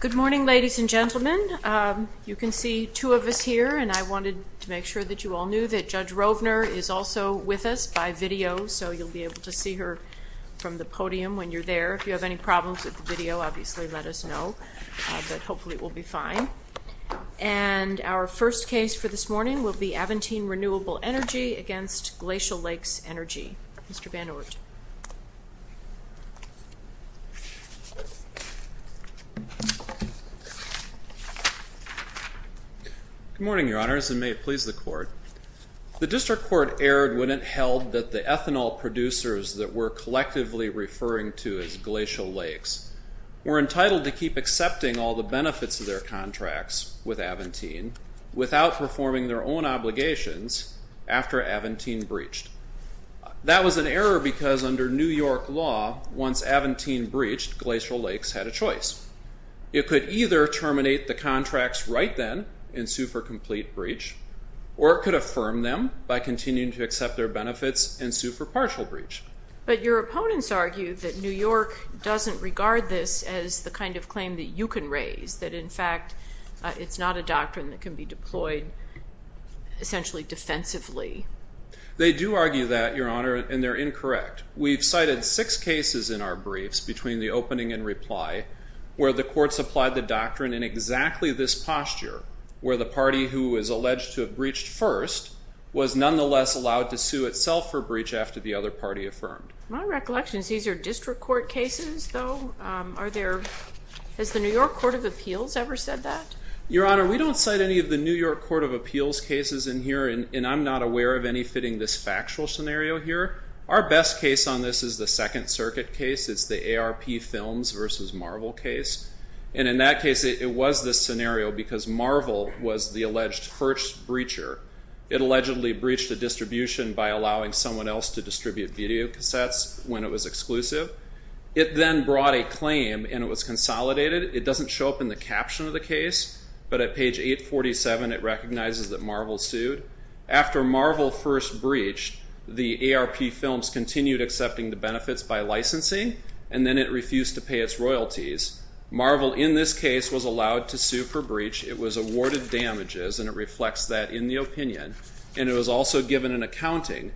Good morning, ladies and gentlemen. You can see two of us here, and I wanted to make sure that you all knew that Judge Rovner is also with us by video, so you'll be able to see her from the podium when you're there. If you have any problems with the video, obviously let us know, but hopefully it will be fine. And our first case for this morning will be Aventine Renewable Energy against Glacial Lakes Energy. Mr. Rovner. Good morning, Your Honors, and may it please the Court. The District Court erred when it held that the ethanol producers that we're collectively referring to as Glacial Lakes were entitled to keep accepting all the benefits of their contracts with Aventine without performing their own obligations after Aventine breached. That was an error because under New York law, once Aventine breached, Glacial Lakes had a choice. It could either terminate the contracts right then and sue for complete breach, or it could affirm them by continuing to accept their benefits and sue for partial breach. But your opponents argue that New York doesn't regard this as the kind of claim that you can raise, that in fact it's not a doctrine that can be deployed essentially defensively. They do argue that, Your Honor, and they're incorrect. We've had six cases in our briefs between the opening and reply where the Court supplied the doctrine in exactly this posture, where the party who is alleged to have breached first was nonetheless allowed to sue itself for breach after the other party affirmed. My recollection is these are District Court cases, though? Are there, has the New York Court of Appeals ever said that? Your Honor, we don't cite any of the New York Court of Appeals cases in here, and I'm not aware of any fitting this factual scenario here. Our best case on this is the Second Circuit case. It's the ARP Films versus Marvel case. And in that case, it was this scenario because Marvel was the alleged first breacher. It allegedly breached a distribution by allowing someone else to distribute videocassettes when it was exclusive. It then brought a claim, and it was consolidated. It doesn't show up in the caption of the case, but at page 847, it recognizes that Marvel sued. After Marvel first breached, the ARP Films continued accepting the benefits by licensing, and then it refused to pay its royalties. Marvel, in this case, was allowed to sue for breach. It was awarded damages, and it reflects that in the opinion. And it was also given an accounting,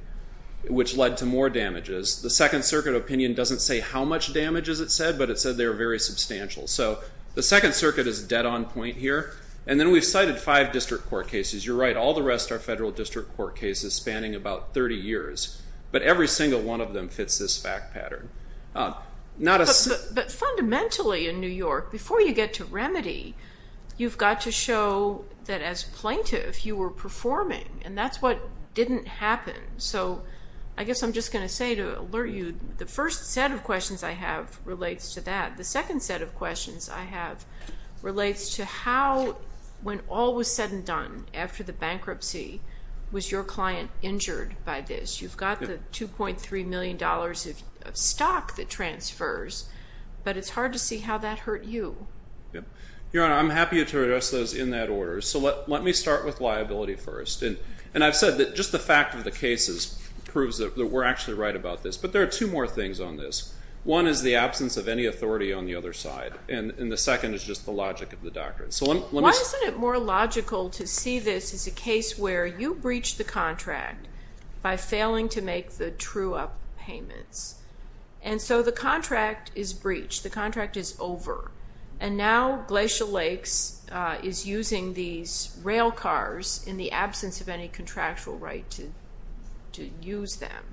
which led to more damages. The Second Circuit opinion doesn't say how much damage is it said, but it said they were very substantial. So the Second Circuit is dead on point here. And then we've cited five District Court cases. You're right. All the rest are Federal District Court cases spanning about 30 years. But every single one of them fits this fact pattern. But fundamentally, in New York, before you get to remedy, you've got to show that as plaintiff, you were performing, and that's what didn't happen. So I guess I'm just going to say to alert you, the first set of questions I have relates to that. The second set of questions I have relates to how, when all was said and done after the bankruptcy, was your client injured by this? You've got the $2.3 million of stock that transfers, but it's hard to see how that hurt you. Your Honor, I'm happy to address those in that order. So let me start with liability first. And I've said that just the fact of the cases proves that we're actually right about this. But there are two more things on this. One is the absence of any authority on the other side. And the second is just the logic of the doctrine. Why isn't it more logical to see this as a case where you breached the contract by failing to make the true-up payments? And so the contract is breached. The contract is over. And now Glacier Lakes is using these rail cars in the absence of any contractual right to use them.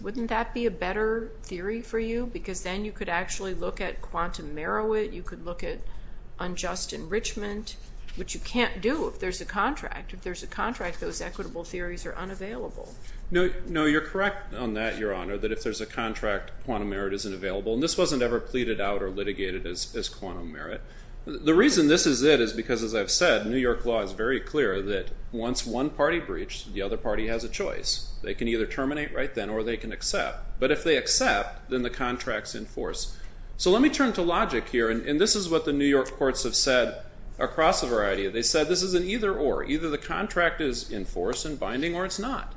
Wouldn't that be a better theory for you? Because then you could actually look at quantum merit. You could look at unjust enrichment, which you can't do if there's a contract. If there's a contract, those equitable theories are unavailable. No, you're correct on that, Your Honor, that if there's a contract, quantum merit isn't available. And this wasn't ever pleaded out or litigated as quantum merit. The reason this is it is because, as I've said, New York law is very clear that once one party breached, the other party has a choice. They can either terminate right then or they can accept. But if they accept, then the contract's in force. So let me turn to logic here. And this is what the New York courts have said across a variety. They said this is an either-or. Either the contract is in force and binding or it's not.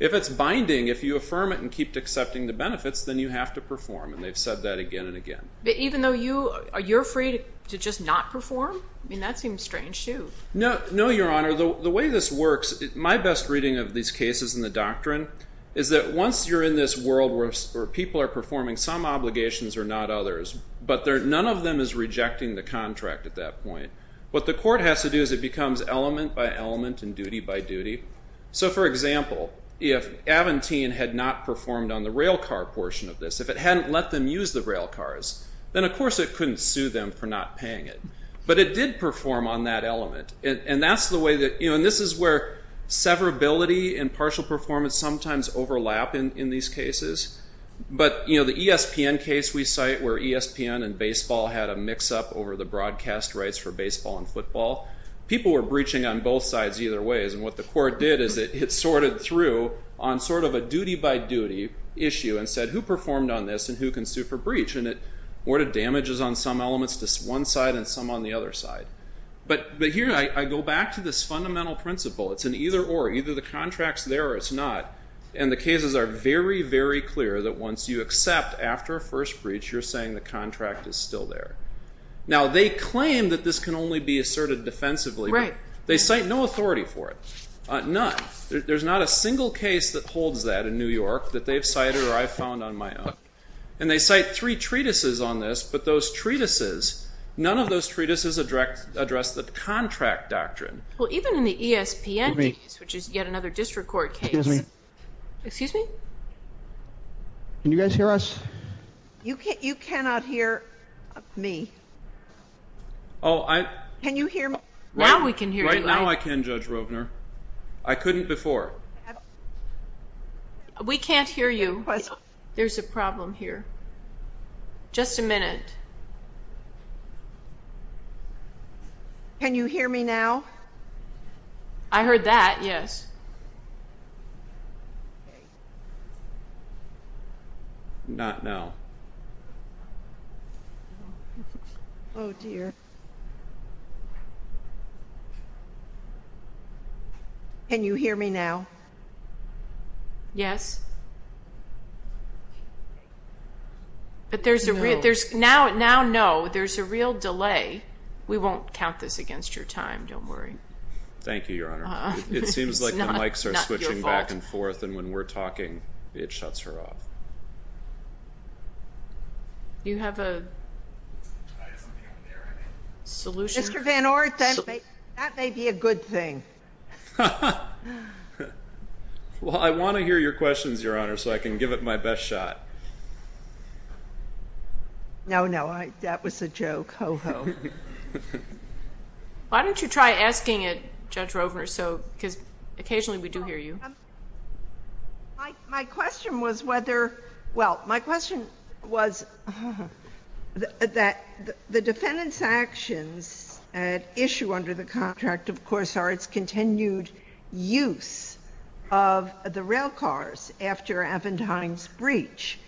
If it's binding, if you affirm it and keep accepting the benefits, then you have to perform. And they've said that again and again. But even though you're free to just not perform? I mean, that seems strange too. No, Your Honor. The way this works, my best reading of these cases in the doctrine is that once you're in this world where people are performing some obligations or not others, but none of them is rejecting the contract at that point. What the court has to do is it becomes element by element and duty by duty. So, for example, if Aventine had not performed on the rail car portion of this, if it hadn't let them use the rail cars, then of course it couldn't sue them for not paying it. But it did perform on that element. And that's the way that, you know, and this is where severability and partial performance sometimes overlap in these cases. But, you know, the ESPN case we cite where ESPN and baseball had a mix-up over the broadcast rights for baseball and football, people were breaching on both sides either ways. And what the court did is it sorted through on sort of a duty by duty issue and said, who performed on this and who can sue for breach? And it ordered damages on some elements, just one side and some on the other And the cases are very, very clear that once you accept after a first breach, you're saying the contract is still there. Now they claim that this can only be asserted defensively. They cite no authority for it. None. There's not a single case that holds that in New York that they've cited or I've found on my own. And they cite three treatises on this, but those treatises, none of those treatises address the contract doctrine. Well, even in the ESPN case, which is yet another district court case, excuse me. Can you guys hear us? You can't, you cannot hear me. Oh, I can you hear me now? We can hear right now. I can judge Rovner. I couldn't before. We can't hear you. There's a problem here. Just a minute. Can you hear me now? I heard that. Yes. Not now. Oh, dear. Can you hear me now? Yes. But there's a real, there's now, now, no, there's a real time. Don't worry. Thank you, Your Honor. It seems like the mics are switching back and forth. And when we're talking, it shuts her off. You have a solution? Mr. Van Orden, that may be a good thing. Well, I want to hear your questions, Your Honor, so I can give it my best shot. No, no, I, that was a joke. Ho, ho. Why don't you try asking it, Judge Rovner? So, because occasionally we do hear you. My question was whether, well, my question was that the defendant's actions at issue under the contract, of course, are its continued use of the railcars after Avantime's breach.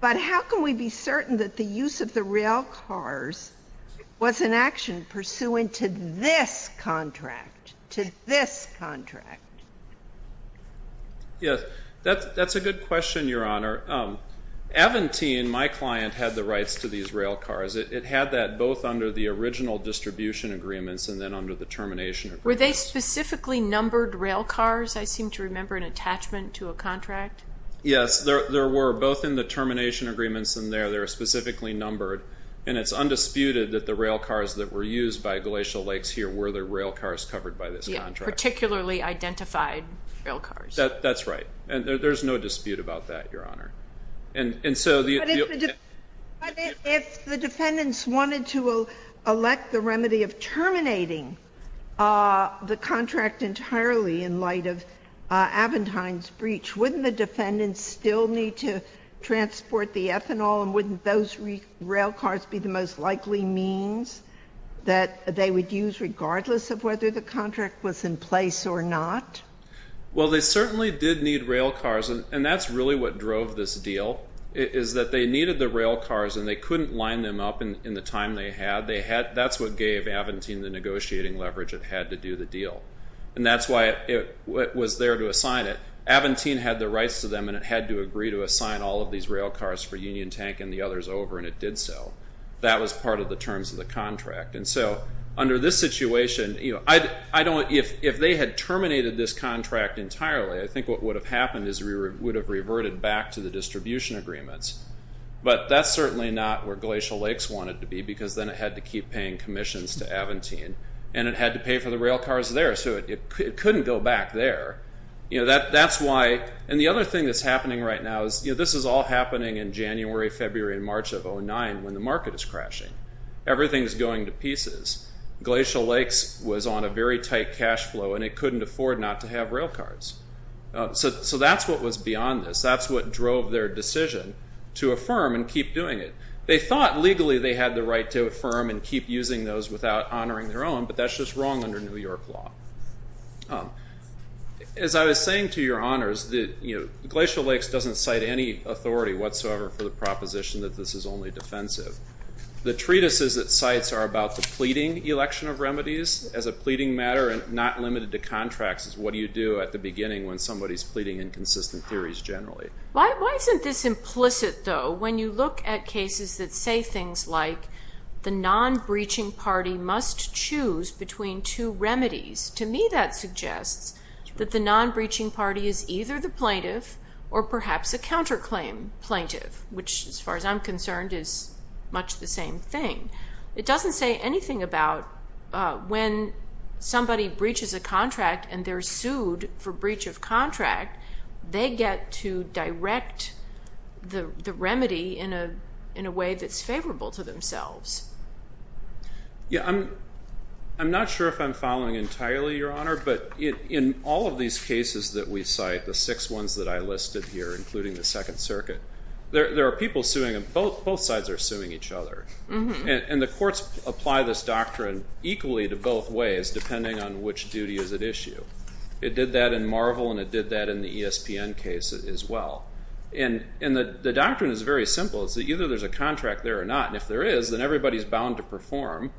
But how can we be certain that the use of the railcars was an action pursuant to this contract, to this contract? Yes, that's a good question, Your Honor. Avantime, my client, had the rights to these railcars. It had that both under the original distribution agreements and then under the termination agreements. Were they specifically numbered railcars? I seem to remember an attachment to a contract. Yes, there were. Both in the termination agreements and there, they were specifically numbered. And it's undisputed that the railcars that were used by Glacial Lakes here were the railcars covered by this contract. Particularly identified railcars. That's right. And there's no dispute about that, Your Honor. And so the... But if the defendants wanted to elect the remedy of terminating the contract entirely in light of Avantime's breach, wouldn't the defendants still need to transport the ethanol and wouldn't those railcars be the most likely means that they would use regardless of whether the contract was in place or not? Well, they certainly did need railcars. And that's really what drove this deal, is that they needed the railcars and they couldn't line them up in the time they had. They had... That's what gave Avantime the negotiating leverage it had to do the deal. And that's why it was there to assign it. Avantime had the rights to them and it had to agree to assign all of these railcars for Union Tank and the others over and it did so. That was part of the terms of the contract. And so under this situation, I don't... If they had terminated this contract entirely, I think what would have happened is we would have reverted back to the distribution agreements. But that's certainly not where Glacial Lakes wanted to be because then it had to keep paying commissions to Avantime and it had to pay for the railcars there. So it couldn't go back there. That's why... And the other thing that's happening right now is this is all happening in January, February, and March of 2009 when the market is crashing. Everything is going to pieces. Glacial Lakes was on a very tight cash flow and it couldn't afford not to have railcars. So that's what was beyond this. That's what drove their decision to affirm and keep doing it. They thought legally they had the right to affirm and keep using those without honoring their own, but that's just wrong under New York law. As I was saying to your honors, Glacial Lakes doesn't cite any authority whatsoever for the proposition that this is only defensive. The treatises it cites are about the pleading election of remedies as a pleading matter and not limited to contracts as what do you do at the beginning when somebody is pleading inconsistent theories generally. Why isn't this implicit though when you look at cases that say things like the non-breaching party must choose between two parties? To me that suggests that the non-breaching party is either the plaintiff or perhaps a counterclaim plaintiff, which as far as I'm concerned is much the same thing. It doesn't say anything about when somebody breaches a contract and they're sued for breach of contract, they get to direct the remedy in a way that's favorable to themselves. I'm not sure if I'm following entirely, your honor, but in all of these cases that we cite, the six ones that I listed here, including the Second Circuit, there are people suing them. Both sides are suing each other. And the courts apply this doctrine equally to both ways depending on which duty is at issue. It did that in Marvel and it did that in the ESPN case as well. And the doctrine is very simple. It's that either there's a contract there or not. And if there is, then everybody's bound to perform.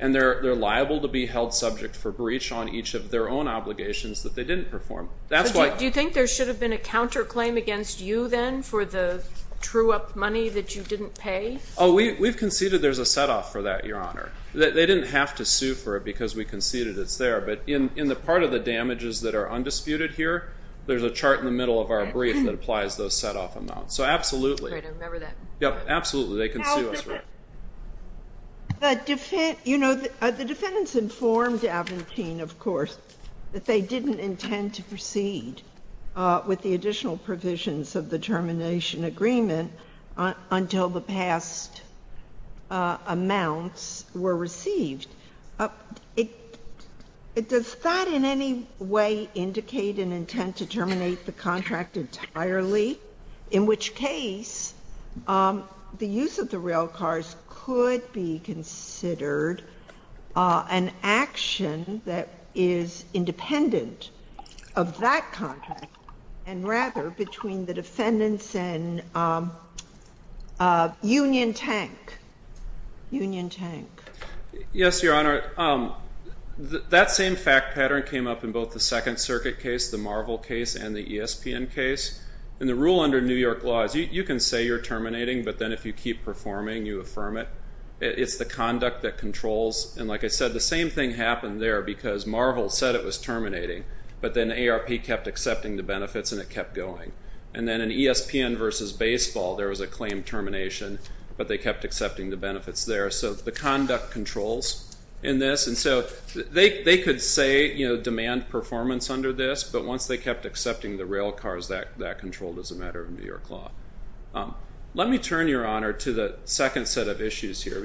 And they're liable to be held subject for breach on each of their own obligations that they didn't perform. Do you think there should have been a counterclaim against you then for the true up money that you didn't pay? We've conceded there's a set off for that, your honor. They didn't have to sue for it because we conceded it's there. But in the part of the damages that are undisputed here, there's a chart in the middle of our brief that applies those set off amounts. So absolutely. Right. I remember that. Yep. Absolutely. They can sue us for it. You know, the defendants informed Aventine, of course, that they didn't intend to proceed with the additional provisions of the termination agreement until the past amounts were received. Does that in any way indicate an intent to terminate the contract entirely? In which case, the use of the railcars could be considered an action that is independent of that contract and rather between the defendants and Union Tank. Union Tank. Yes, your honor. That same fact pattern came up in both the case. And the rule under New York law is you can say you're terminating, but then if you keep performing, you affirm it. It's the conduct that controls. And like I said, the same thing happened there because Marvel said it was terminating, but then ARP kept accepting the benefits and it kept going. And then in ESPN versus baseball, there was a claim termination, but they kept accepting the benefits there. So the conduct controls in this. And so they could say, you know, demand performance under this, but once they kept accepting the railcars, that controlled as a matter of New York law. Let me turn your honor to the second set of issues here.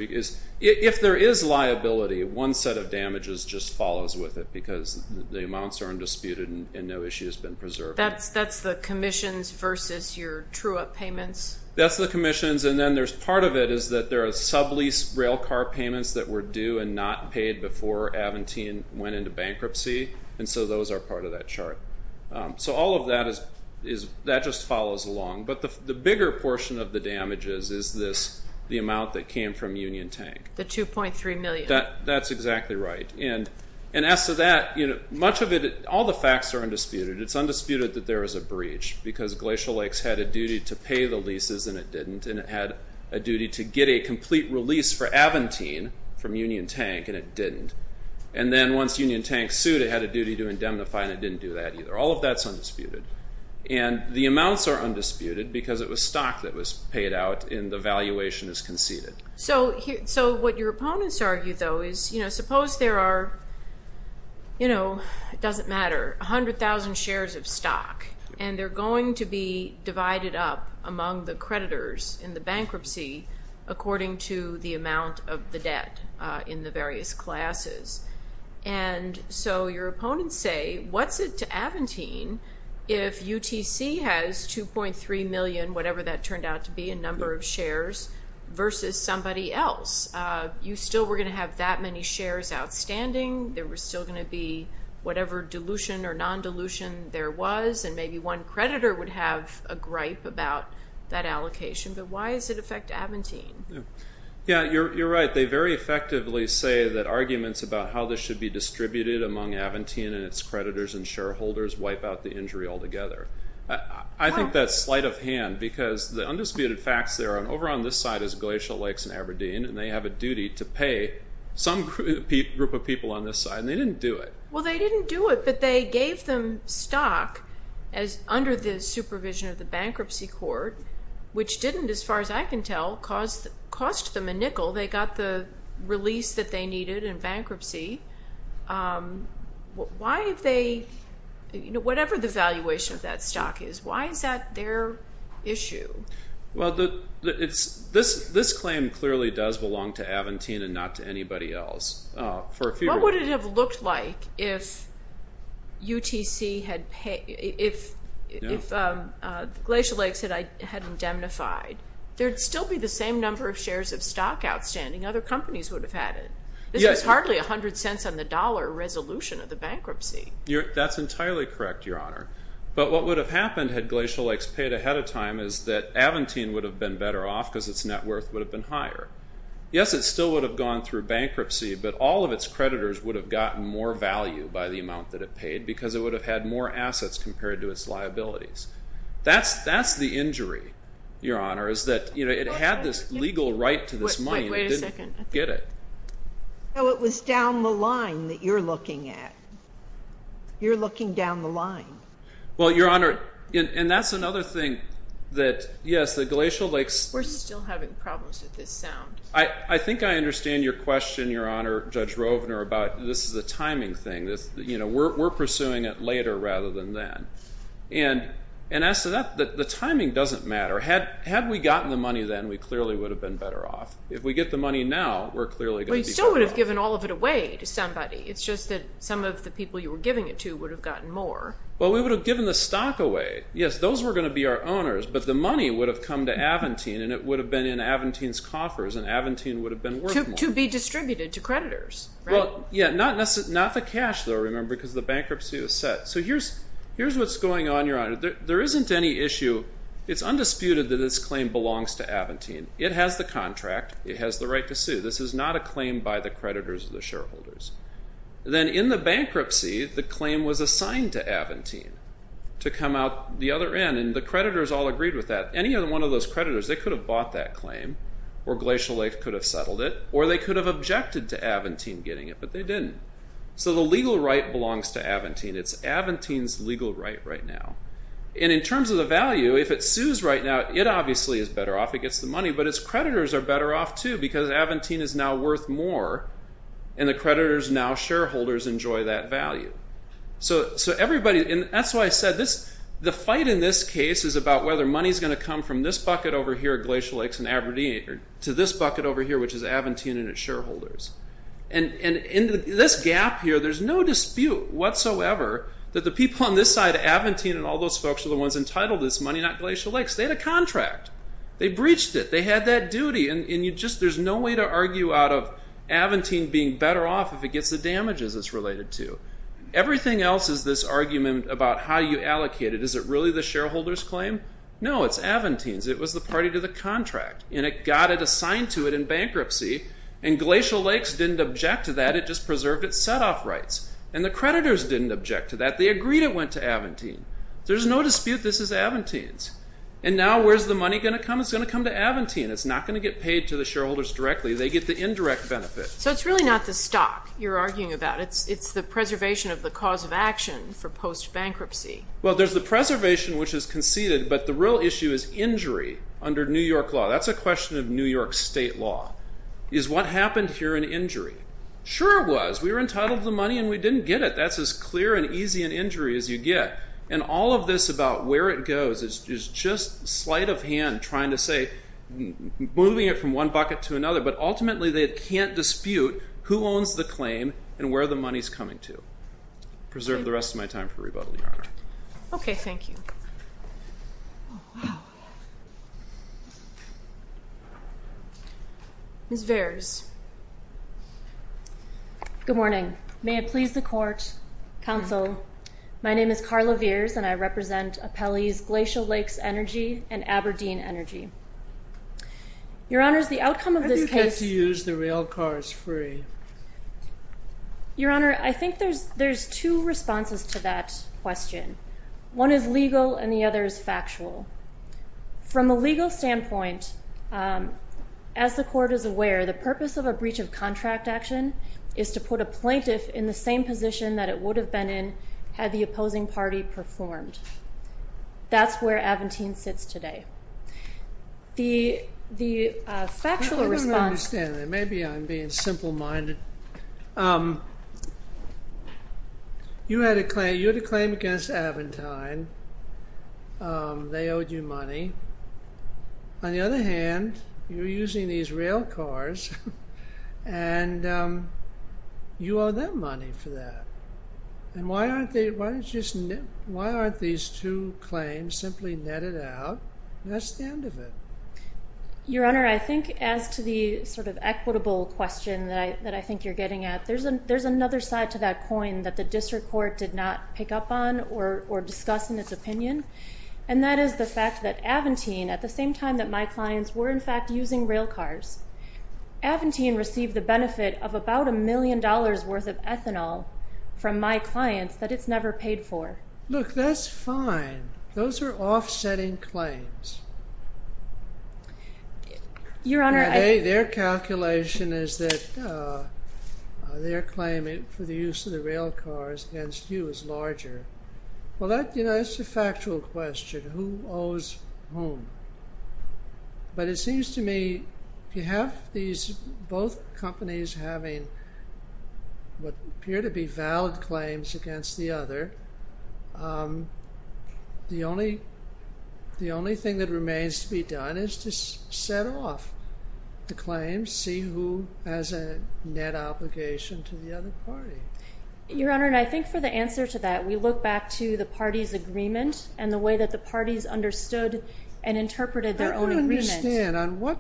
If there is liability, one set of damages just follows with it because the amounts are undisputed and no issue has been preserved. That's the commissions versus your true up payments. That's the commissions. And then there's part of it is that there are sublease railcar payments that were due and not paid before Aventine went into bankruptcy. And so those are part of that chart. So all of that just follows along. But the bigger portion of the damages is the amount that came from Union Tank. The 2.3 million. That's exactly right. And as to that, much of it, all the facts are undisputed. It's undisputed that there was a breach because Glacial Lakes had a duty to pay the leases and it didn't. And it had a duty to get a complete release for Aventine from Union Tank and it didn't. And then once Union Tank sued, it had a duty to pay the leases and it didn't do that either. All of that is undisputed. And the amounts are undisputed because it was stock that was paid out and the valuation is conceded. So what your opponents argue, though, is suppose there are, you know, it doesn't matter, 100,000 shares of stock and they're going to be divided up among the creditors in the bankruptcy according to the amount of the debt in the various classes. And so your opponents say, what's it to Aventine if UTC has 2.3 million, whatever that turned out to be, in number of shares versus somebody else? You still were going to have that many shares outstanding. There was still going to be whatever dilution or non-dilution there was. And maybe one creditor would have a gripe about that allocation. But why does it affect Aventine? Yeah, you're right. They very effectively say that arguments about how this should be distributed among Aventine and its creditors and shareholders wipe out the injury altogether. I think that's slight of hand because the undisputed facts there are over on this side is Glacial Lakes and Aberdeen and they have a duty to pay some group of people on this side. And they didn't do it. Well, they didn't do it, but they gave them stock as under the supervision of the bankruptcy court, which didn't, as far as I can tell, cost them a nickel. They got the release that they needed in bankruptcy. Whatever the valuation of that stock is, why is that their issue? Well, this claim clearly does belong to Aventine and not to anybody else. What would it have looked like if Glacial Lakes had indemnified? There'd still be the same number of shares of Aventine. This was hardly a hundred cents on the dollar resolution of the bankruptcy. That's entirely correct, Your Honor. But what would have happened had Glacial Lakes paid ahead of time is that Aventine would have been better off because its net worth would have been higher. Yes, it still would have gone through bankruptcy, but all of its creditors would have gotten more value by the amount that it paid because it would have had more assets compared to its liabilities. That's the injury, Your Honor, is that it had this legal right to this money and it didn't get it. No, it was down the line that you're looking at. You're looking down the line. Well, Your Honor, and that's another thing that, yes, the Glacial Lakes... We're still having problems with this sound. I think I understand your question, Your Honor, Judge Rovner, about this is a timing thing. We're pursuing it later rather than then. And as to that, the timing doesn't matter. Had we gotten the money then, we clearly would have been better off. If we get the money now, we're clearly going to be better off. Well, you still would have given all of it away to somebody. It's just that some of the people you were giving it to would have gotten more. Well, we would have given the stock away. Yes, those were going to be our owners, but the money would have come to Aventine and it would have been in Aventine's coffers and Aventine would have been worth more. To be distributed to creditors. Well, yeah, not the cash though, remember, because the bankruptcy was set. So here's what's going on, Your Honor. There isn't any issue. It's undisputed that this claim belongs to Aventine. It has the contract. It has the right to sue. This is not a claim by the creditors or the shareholders. Then in the bankruptcy, the claim was assigned to Aventine to come out the other end. And the creditors all agreed with that. Any one of those creditors, they could have bought that claim or Glacial Lake could have settled it or they could have objected to Aventine getting it, but they didn't. So the legal right belongs to Aventine. It's Aventine's legal right right now. And in terms of the value, if it sues right now, it obviously is better off. It gets the money. But its creditors are better off, too, because Aventine is now worth more and the creditors, now shareholders, enjoy that value. So everybody, and that's why I said this, the fight in this case is about whether money is going to come from this bucket over here at Glacial Lakes and Aberdeen to this bucket over here, which is Aventine and its shareholders. And in this gap here, there's no dispute whatsoever that the people on this side, Aventine and all those folks are the ones entitled to this money, not Glacial Lakes. They had a contract. They breached it. They had that duty. And there's no way to argue out of Aventine being better off if it gets the damages it's related to. Everything else is this argument about how you allocate it. Is it really the shareholders' claim? No, it's Aventine's. It was the party to the contract, and it got it assigned to it in bankruptcy, and Glacial Lakes didn't object to that. It just preserved its set-off rights. And the creditors didn't object to that. They agreed it went to Aventine. There's no dispute this is Aventine's. And now where's the money going to come? It's going to come to Aventine. It's not going to get paid to the shareholders directly. They get the indirect benefit. So it's really not the stock you're arguing about. It's the preservation of the cause of action for post-bankruptcy. Well, there's the preservation, which is conceded, but the real issue is injury under New York law. That's a question of New York state law. Is what happened here an injury? Sure it was. We were entitled to the money and we didn't get it. That's as clear and easy an injury as you get. And all of this about where it goes is just slight of hand, trying to say, moving it from one bucket to another, but ultimately they can't dispute who owns the claim and where the money's coming to. Preserve the rest of my time for rebuttal, Your Honor. Okay. Thank you. Ms. Vares. Good morning. May it please the court, counsel. My name is Carla Vares and I represent Appellee's Glacial Lakes Energy and Aberdeen Energy. Your Honor's the outcome of this case, you use the rail cars free. Your Honor. I think there's, there's two responses to that question. One is legal and the other is factual from a legal standpoint. Um, as the court is aware, the purpose of a breach of contract action is to put a plaintiff in the same position that it would have been in had the opposing party performed. That's where Aventine sits today. The, the, uh, factual response. Maybe I'm being simple minded. Um, you had a claim, you had a claim against Aventine. Um, they owed you money. On the other hand, you're using these rail cars and, um, you owe them money for that. And why aren't they, why don't you just, why aren't these two claims simply netted out? That's the end of it. Your Honor. I think as to the sort of equitable question that I, that I think you're getting at, there's a, there's another side to that coin that the district court did not pick up on or, or discuss in its opinion. And that is the fact that Aventine, at the same time that my clients were in fact using rail cars, Aventine received the benefit of about a third of its clients that it's never paid for. Look, that's fine. Those are offsetting claims. Your Honor. I, their calculation is that, uh, uh, their claim for the use of the rail cars against you is larger. Well, that, you know, it's a factual question. Who owes whom? But it seems to me you have these both companies having what appear to be valid claims against the other. Um, the only, the only thing that remains to be done is to set off the claims, see who has a net obligation to the other party. Your Honor. And I think for the answer to that, we look back to the party's agreement and the way that the parties understood and interpreted their own agreement. I don't understand. On what,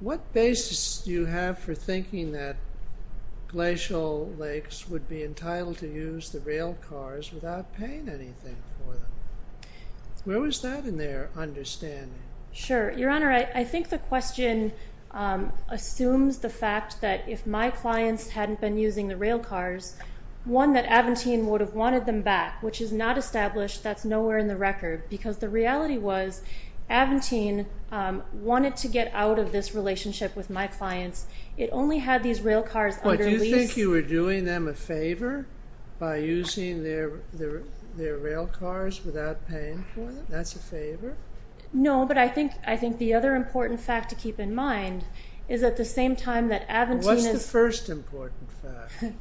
what basis do you have for thinking that Glacial Lakes would be entitled to use the rail cars without paying anything for them? Where was that in their understanding? Sure. Your Honor. I think the question, um, assumes the fact that if my clients hadn't been using the rail cars, one that Aventine would have wanted them back, which is not established, that's nowhere in the record because the reality was Aventine, um, wanted to get out of this relationship with my clients. It only had these rail cars under lease. Wait, do you think you were doing them a favor by using their, their, their rail cars without paying for them? That's a favor? No, but I think, I think the other important fact to keep in mind is at the same time that Aventine is... What's the first important fact?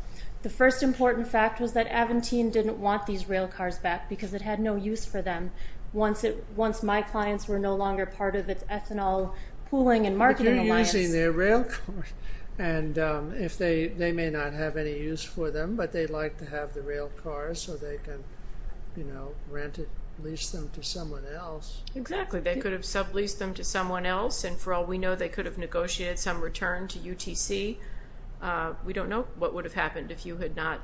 The first important fact was that Aventine didn't want these rail cars back because it had no use for them. Once it, once my clients were no longer part of its ethanol pooling and marketing alliance... But you're using their rail cars. And, um, if they, they may not have any use for them, but they'd like to have the rail cars so they can, you know, rent it, lease them to someone else. Exactly. They could have subleased them to someone else. And for all we know, they could have negotiated some return to UTC. Uh, we don't know what would have happened if you had not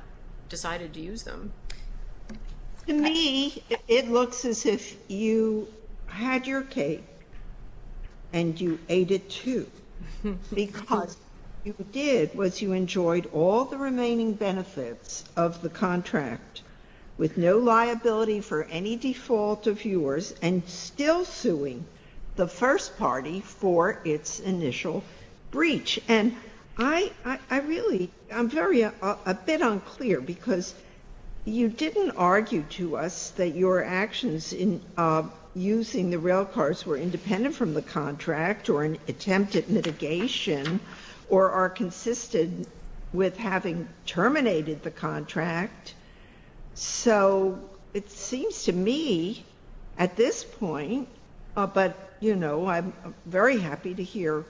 decided to use them. To me, it looks as if you had your cake and you ate it too, because what you did was you enjoyed all the remaining benefits of the contract with no liability for any default of yours and still suing the first party for its You didn't argue to us that your actions in, uh, using the rail cars were independent from the contract or an attempt at mitigation or are consistent with having terminated the contract. So it seems to me at this point, uh, but you know, I'm very happy to hear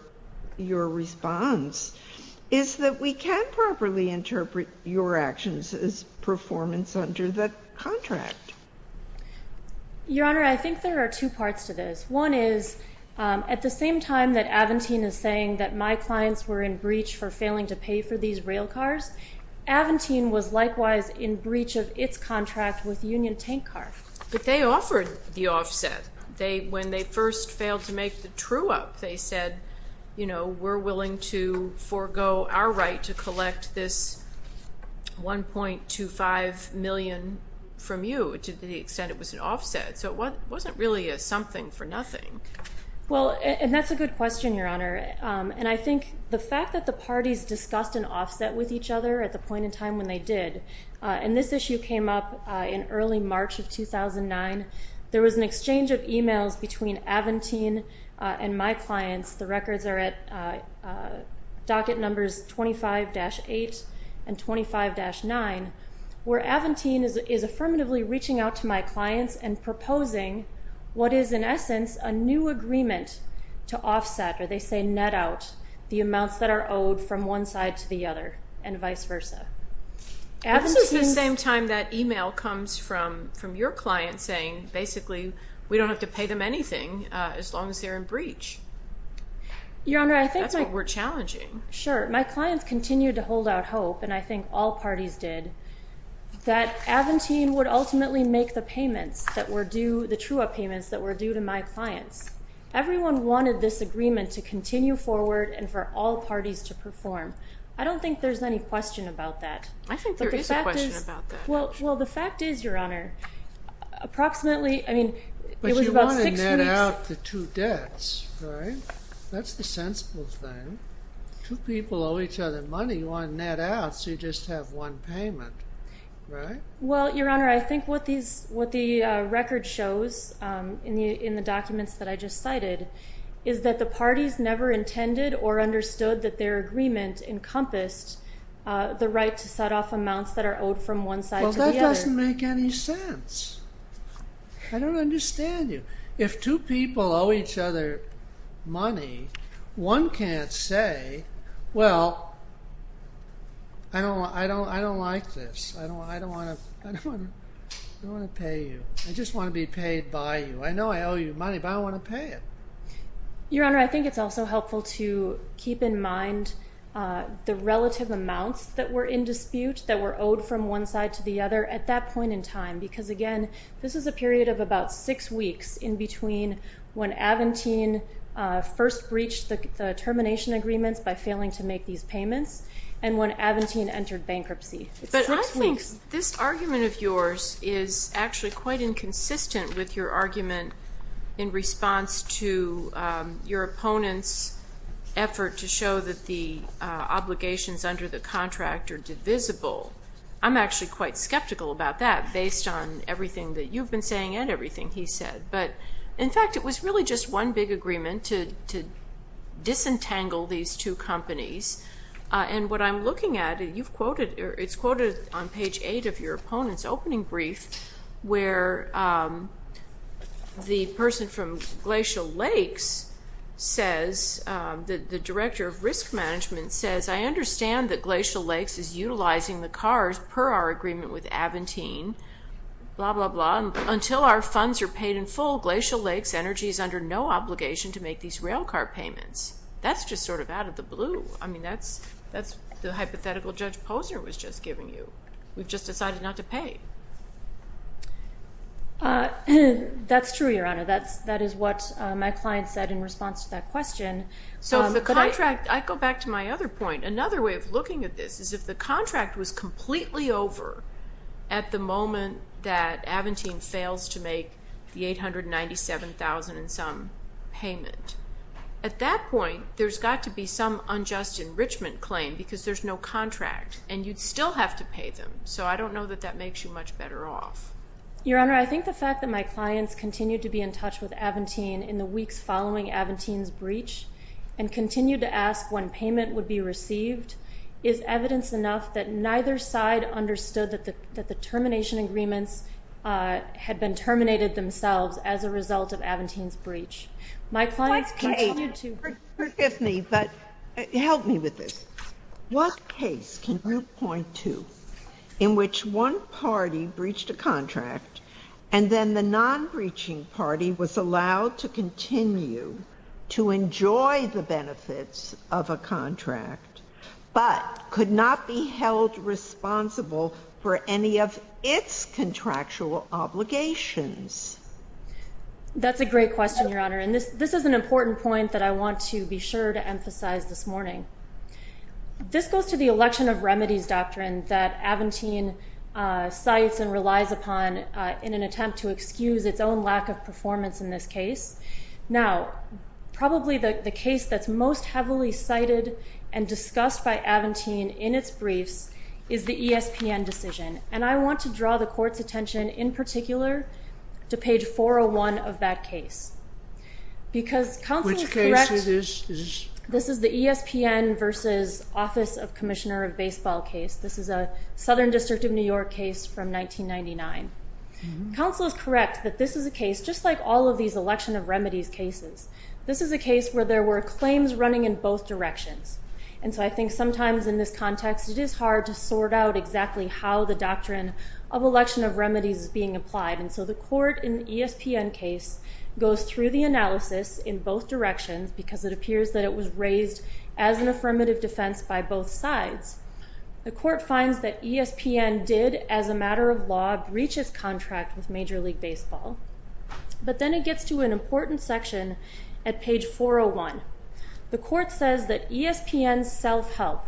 your response is that we can properly interpret your actions as performance under that contract. Your Honor, I think there are two parts to this. One is, um, at the same time that Aventine is saying that my clients were in breach for failing to pay for these rail cars, Aventine was likewise in breach of its contract with Union Tank Car. But they offered the offset. They, when they first failed to make the true up, they said, you know, we're 2.25 million from you to the extent it was an offset. So it wasn't really a something for nothing. Well, and that's a good question, Your Honor. Um, and I think the fact that the parties discussed an offset with each other at the point in time when they did, uh, and this issue came up, uh, in early March of 2009, there was an exchange of emails between Aventine, uh, and my clients. The records are at, uh, uh, docket numbers 25-8 and 25-9, where Aventine is, is affirmatively reaching out to my clients and proposing what is in essence, a new agreement to offset, or they say net out the amounts that are owed from one side to the other and vice versa. At the same time that email comes from, from your client saying basically we don't have to pay them anything, uh, as long as they're in breach. Your Honor, I think that's what we're challenging. Sure. My clients continued to hold out hope. And I think all parties did that Aventine would ultimately make the payments that were due, the true up payments that were due to my clients, everyone wanted this agreement to continue forward and for all parties to perform. I don't think there's any question about that. I think there is a question about that. Well, well, the fact is Your Honor, approximately, I mean, it was about six debts, right? That's the sensible thing. Two people owe each other money. You want to net out, so you just have one payment, right? Well, Your Honor, I think what these, what the record shows, um, in the, in the documents that I just cited is that the parties never intended or understood that their agreement encompassed, uh, the right to set off amounts that are owed from one side to the other. Well, that doesn't make any sense. I don't understand you. If two people owe each other money, one can't say, well, I don't, I don't, I don't like this. I don't want, I don't want to, I don't want to pay you. I just want to be paid by you. I know I owe you money, but I don't want to pay it. Your Honor, I think it's also helpful to keep in mind, uh, the relative amounts that were in dispute that were owed from one side to the other at that in between when Aventine, uh, first breached the termination agreements by failing to make these payments and when Aventine entered bankruptcy. But I think this argument of yours is actually quite inconsistent with your argument in response to, um, your opponent's effort to show that the, uh, obligations under the contract are divisible. I'm actually quite skeptical about that based on everything that you've been saying and everything. He said, but in fact, it was really just one big agreement to, to disentangle these two companies. Uh, and what I'm looking at, you've quoted or it's quoted on page eight of your opponent's opening brief where, um, the person from Glacial Lakes says, um, the, the director of risk management says, I understand that Glacial Lakes is utilizing the cars per our agreement with Aventine, blah, blah, blah, until our funds are paid in full, Glacial Lakes Energy is under no obligation to make these rail car payments. That's just sort of out of the blue. I mean, that's, that's the hypothetical Judge Posner was just giving you. We've just decided not to pay. Uh, that's true, Your Honor. That's, that is what my client said in response to that question. So the contract, I go back to my other point. Another way of looking at this is if the contract was completely over at the time of the breach, you'd still have to make the $897,000 in some payment. At that point, there's got to be some unjust enrichment claim because there's no contract and you'd still have to pay them. So I don't know that that makes you much better off. Your Honor, I think the fact that my clients continued to be in touch with Aventine in the weeks following Aventine's breach and continued to ask when payment would be received is evidence enough that neither side understood that the, that the termination agreements, uh, had been terminated themselves as a result of Aventine's breach. My clients continued to... Forgive me, but help me with this. What case can you point to in which one party breached a contract and then the non-breaching party was allowed to continue to enjoy the benefits of a its contractual obligations? That's a great question, Your Honor. And this, this is an important point that I want to be sure to emphasize this morning. This goes to the election of remedies doctrine that Aventine, uh, cites and relies upon, uh, in an attempt to excuse its own lack of performance in this case. Now, probably the case that's most heavily cited and discussed by Aventine in its briefs is the ESPN decision. And I want to draw the court's attention in particular to page 401 of that case, because counsel is correct. This is the ESPN versus office of commissioner of baseball case. This is a Southern district of New York case from 1999. Counsel is correct that this is a case, just like all of these election of remedies cases. This is a case where there were claims running in both directions. And so I think sometimes in this context, it is hard to sort out exactly how the doctrine of election of remedies is being applied. And so the court in ESPN case goes through the analysis in both directions because it appears that it was raised as an affirmative defense by both sides. The court finds that ESPN did as a matter of law breaches contract with major league baseball. But then it gets to an important section at page 401. The court says that ESPN self-help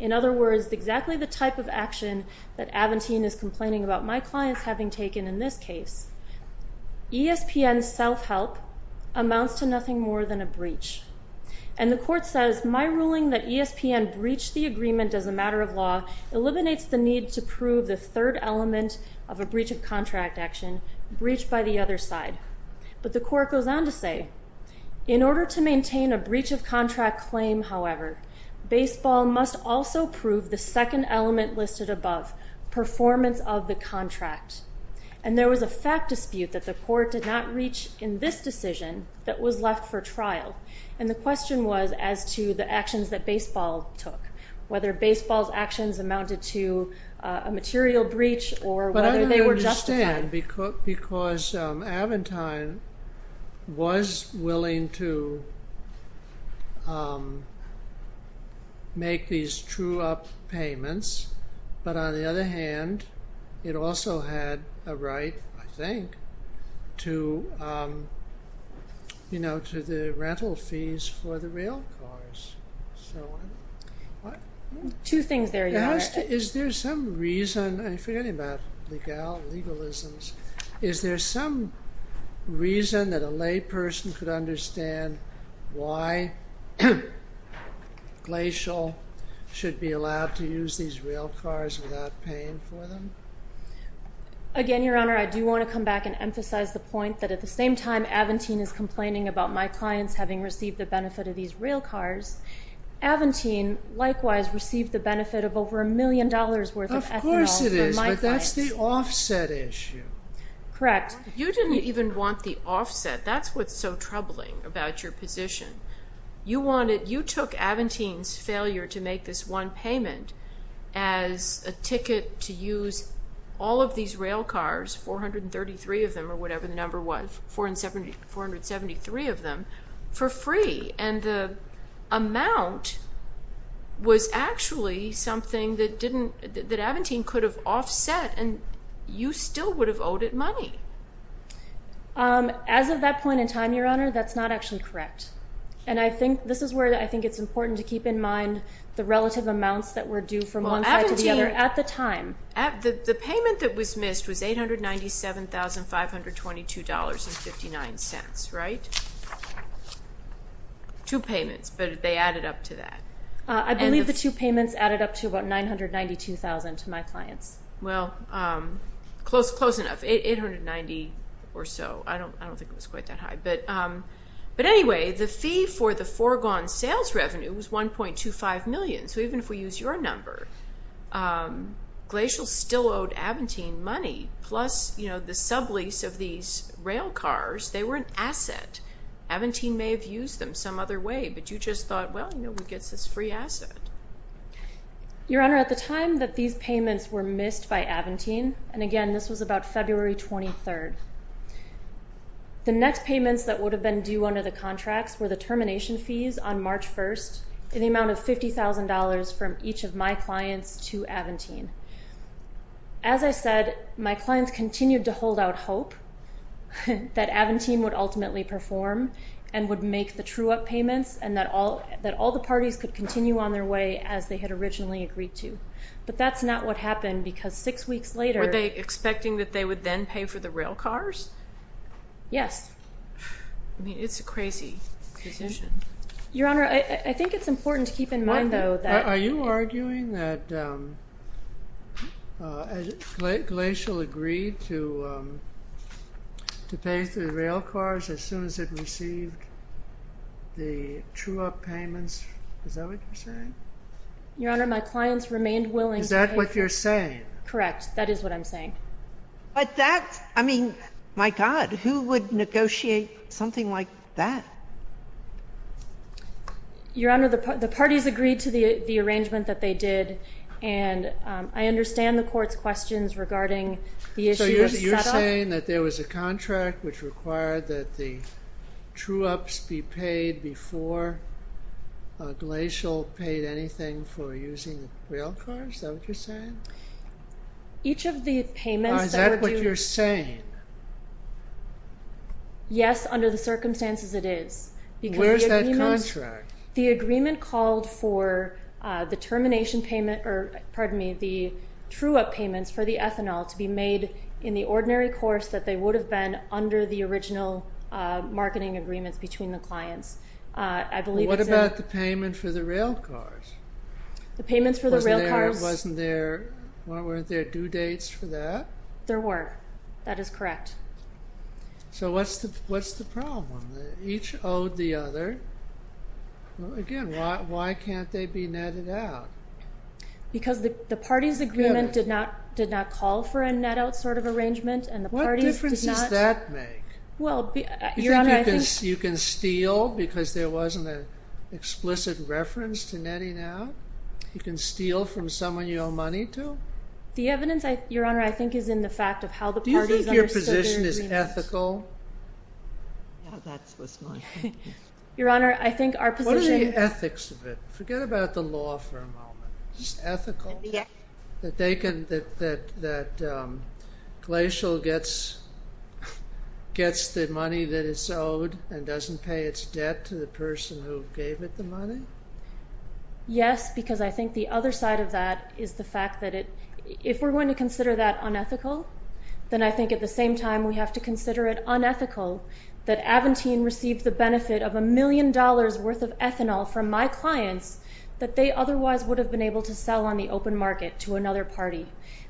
in other words, exactly the type of action that Aventine is complaining about my clients having taken in this case. ESPN self-help amounts to nothing more than a breach. And the court says, my ruling that ESPN breached the agreement as a matter of law eliminates the need to prove the third element of a breach of contract action breached by the other side. But the court goes on to say, in order to maintain a breach of contract claim, however, baseball must also prove the second element listed above, performance of the contract. And there was a fact dispute that the court did not reach in this decision that was left for trial. And the question was as to the actions that baseball took, whether baseball's actions amounted to a material breach or whether they were justified. Because Aventine was willing to make these true up payments, but on the other hand, it also had a right, I think, to, you know, to the rental fees for the real cars. Two things there. Is there some reason, I'm forgetting about legalisms, is there some reason that a lay person could understand why Glacial should be allowed to use these real cars without paying for them? Again, Your Honor, I do want to come back and emphasize the point that at the same time Aventine is complaining about my clients having received the benefit of these real cars, Aventine likewise received the benefit of over a million dollars worth of ethanol from my clients. Of course it is, but that's the offset issue. Correct. You didn't even want the offset. That's what's so troubling about your position. You wanted, you took Aventine's failure to make this one payment as a ticket to use all of these real cars, 433 of them or whatever the number was, 473 of them, for free and the amount was actually something that didn't, that Aventine could have offset and you still would have owed it money. Um, as of that point in time, Your Honor, that's not actually correct. And I think this is where I think it's important to keep in mind the relative amounts that were due from one side to the other at the time. At the, the payment that was missed was $897,522.59, right? Two payments, but they added up to that. I believe the two payments added up to about $992,000 to my clients. Well, um, close, close enough, $890,000 or so. I don't, I don't think it was quite that high, but, um, but anyway, the fee for the foregone sales revenue was $1.25 million. So even if we use your number, um, Glacial still owed Aventine money plus, you know, the sublease of these rail cars, they were an asset. Aventine may have used them some other way, but you just thought, well, you know, we get this free asset. Your Honor, at the time that these payments were missed by Aventine, and again, this was about February 23rd. The next payments that would have been due under the contracts were the termination fees on March 1st in the amount of $50,000 from each of my clients to Aventine. As I said, my clients continued to hold out hope that Aventine would ultimately perform and would make the true up payments and that all, that all the parties could continue on their way as they had originally agreed to. But that's not what happened because six weeks later... Were they expecting that they would then pay for the rail cars? Yes. I mean, it's a crazy decision. Your Honor, I think it's important to keep in mind though, that... The rail cars, as soon as it received the true up payments. Is that what you're saying? Your Honor, my clients remained willing... Is that what you're saying? Correct. That is what I'm saying. But that, I mean, my God, who would negotiate something like that? Your Honor, the parties agreed to the arrangement that they did. And I understand the court's questions regarding the issue of set up. Are you saying that there was a contract which required that the true ups be paid before Glacial paid anything for using the rail cars? Is that what you're saying? Each of the payments... Is that what you're saying? Yes. Under the circumstances it is. Because the agreement called for the termination payment, or pardon me, the true up payments for the ethanol to be made in the ordinary course that they would have been under the original marketing agreements between the clients. I believe... What about the payment for the rail cars? The payments for the rail cars... Wasn't there, weren't there due dates for that? There were. That is correct. So what's the problem? Each owed the other. Again, why can't they be netted out? Because the party's agreement did not call for a net out sort of arrangement. What difference does that make? You think you can steal because there wasn't an explicit reference to netting out? You can steal from someone you owe money to? The evidence, Your Honor, I think is in the fact of how the parties understood their agreement. Do you think your position is ethical? Yeah, that's what's my point. Your Honor, I think our position... What are the ethics of it? Forget about the law for a moment. It's ethical that Glacial gets the money that it's owed and doesn't pay its debt to the person who gave it the money? Yes, because I think the other side of that is the fact that if we're going to consider that unethical, then I think at the same time we have to consider it unethical that Aventine received the benefit of a million dollars worth of ethanol from my clients that they otherwise would have been able to sell on the open market to another party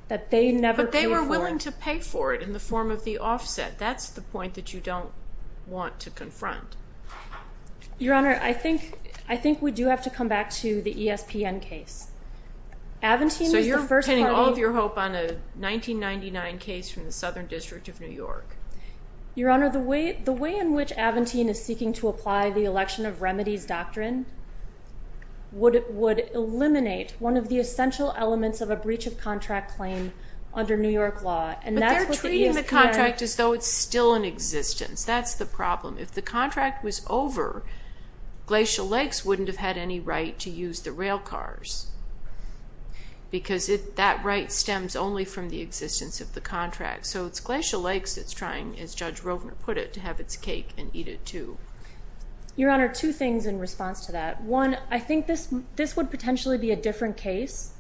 that they never paid for. But they were willing to pay for it in the form of the offset. That's the point that you don't want to confront. Your Honor, I think we do have to come back to the ESPN case. Aventine is the first party... So you're pinning all of your hope on a 1999 case from the Southern District of New York? Your Honor, the way in which Aventine is seeking to apply the election of remedies doctrine would eliminate one of the essential elements of a breach of contract claim under New York law. But they're treating the contract as though it's still in existence. That's the problem. If the contract was over, Glacial Lakes wouldn't have had any right to use the rail cars. Because that right stems only from the existence of the contract. So it's Glacial Lakes that's trying, as Judge Rovner put it, to have its cake and eat it too. Your Honor, two things in response to that. One, I think this would potentially be a different case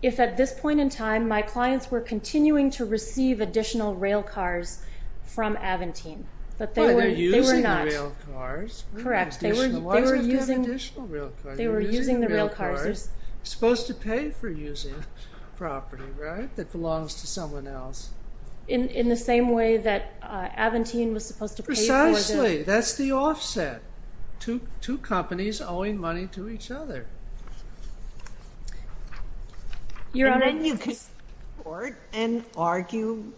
if at this point in time, my clients were continuing to receive additional rail cars from Aventine. But they were not... Well, they're using the rail cars. Correct. They were using... Why do you have to have additional rail cars? They were using the rail cars. You're using the rail cars. You're supposed to pay for using property, right, that belongs to someone else. In the same way that Aventine was supposed to pay for the... Precisely. That's the offset. Two companies owing money to each other. Your Honor, I think... You can support and argue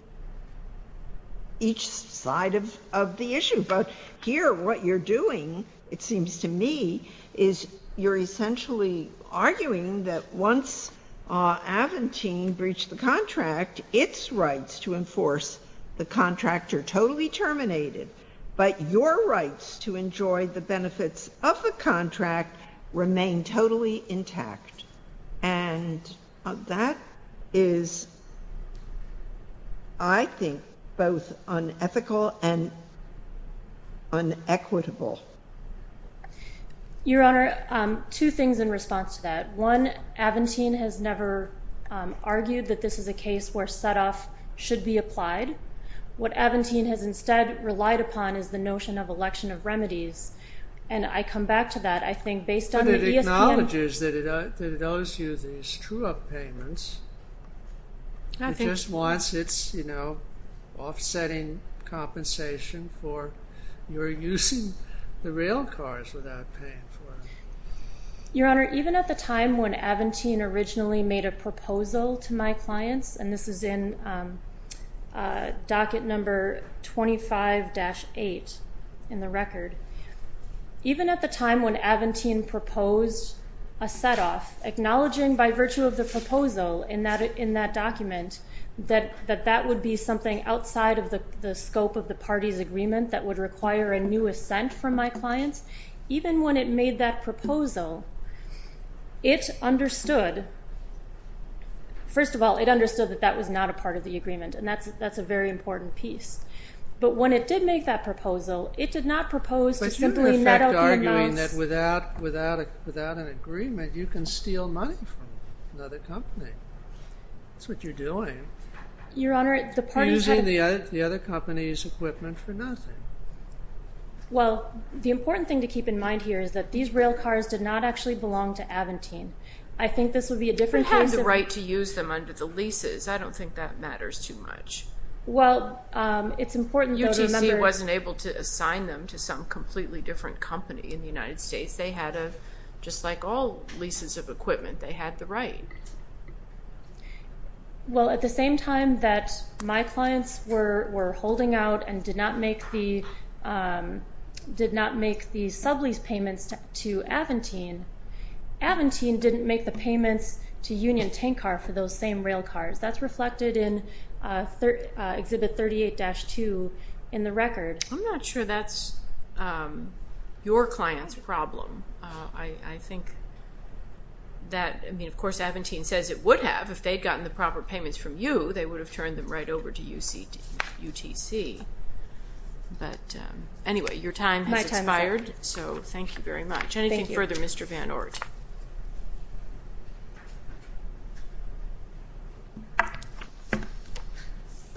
each side of the issue, but here what you're doing, it seems to me, is you're essentially arguing that once Aventine breached the contract, its rights to enforce the contract are totally terminated. But your rights to enjoy the benefits of the contract remain totally intact. And that is, I think, both unethical and unequitable. Your Honor, two things in response to that. One, Aventine has never argued that this is a case where set-off should be applied. What Aventine has instead relied upon is the notion of election of remedies. And I come back to that. I think based on the ESPN... But it acknowledges that it owes you these true-up payments. I think... It just wants its, you know, offsetting compensation for your using the rail cars without paying for them. Your Honor, even at the time when Aventine originally made a proposal to my clients, and this is in docket number 25-8 in the record, even at the time when Aventine proposed a set-off, acknowledging by virtue of the proposal in that document that that would be something outside of the scope of the parties' agreement that would require a new assent from my clients, even when it made that proposal, it understood... First of all, it understood that that was not a part of the agreement, and that's a very important piece. But when it did make that proposal, it did not propose to simply net out the amounts... But you can effect arguing that without an agreement, you can steal money from another company. That's what you're doing. Your Honor, the parties... Using the other company's equipment for nothing. Well, the important thing to keep in mind here is that these rail cars did not actually belong to Aventine. I think this would be a different case... They had the right to use them under the leases. I don't think that matters too much. Well, it's important, though, to remember... UTC wasn't able to assign them to some completely different company in the United States. They had a... Just like all leases of equipment, they had the right. Well, at the same time that my clients were holding out and did not make the sub-lease payments to Aventine, Aventine didn't make the payments to Union Tank Car for those same rail cars. That's reflected in Exhibit 38-2 in the record. I'm not sure that's your client's problem. I think that... I mean, of course, Aventine says it would have. If they'd gotten the proper payments from you, they would have turned them right over to UTC. But anyway, your time has expired, so thank you very much. Thank you. Anything further, Mr. Van Oort?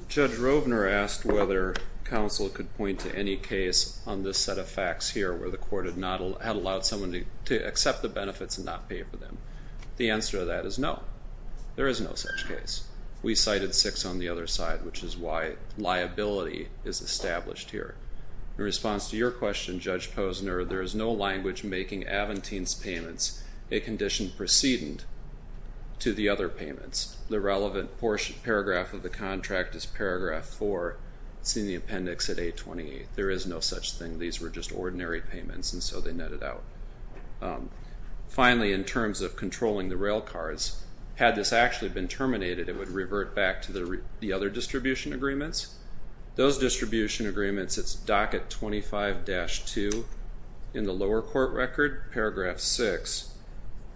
Judge Rovner asked whether counsel could point to any case on this set of facts here where the court had allowed someone to accept the benefits and not pay for them. The answer to that is no. There is no such case. We cited six on the other side, which is why liability is established here. In response to your question, Judge Posner, there is no language making Aventine's payments a condition precedent to the other payments. The relevant paragraph of the contract is paragraph 4, seen in the appendix at 828. There is no such thing. Some of these were just ordinary payments, and so they netted out. Finally, in terms of controlling the railcars, had this actually been terminated, it would revert back to the other distribution agreements. Those distribution agreements, it's docket 25-2 in the lower court record, paragraph 6.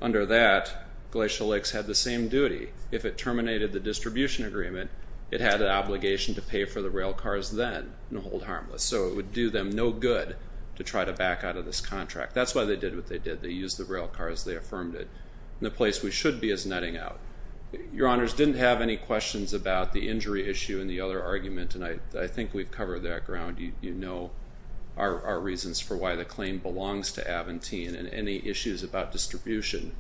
Under that, Glacial Lakes had the same duty. If it terminated the distribution agreement, it had an obligation to pay for the railcars then and hold harmless. So it would do them no good to try to back out of this contract. That's why they did what they did. They used the railcars. They affirmed it. And the place we should be is netting out. Your Honors, didn't have any questions about the injury issue in the other argument, and I think we've covered that ground. You know our reasons for why the claim belongs to Aventine, and any issues about distribution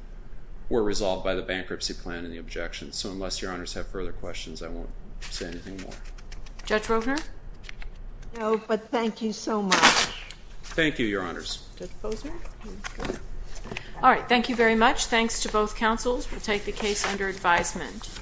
were resolved by the bankruptcy plan and the objections. So unless your Honors have further questions, I won't say anything more. Judge Rovner? No, but thank you so much. Thank you, your Honors. Judge Bozer? All right, thank you very much. Thanks to both counsels. We'll take the case under advisement.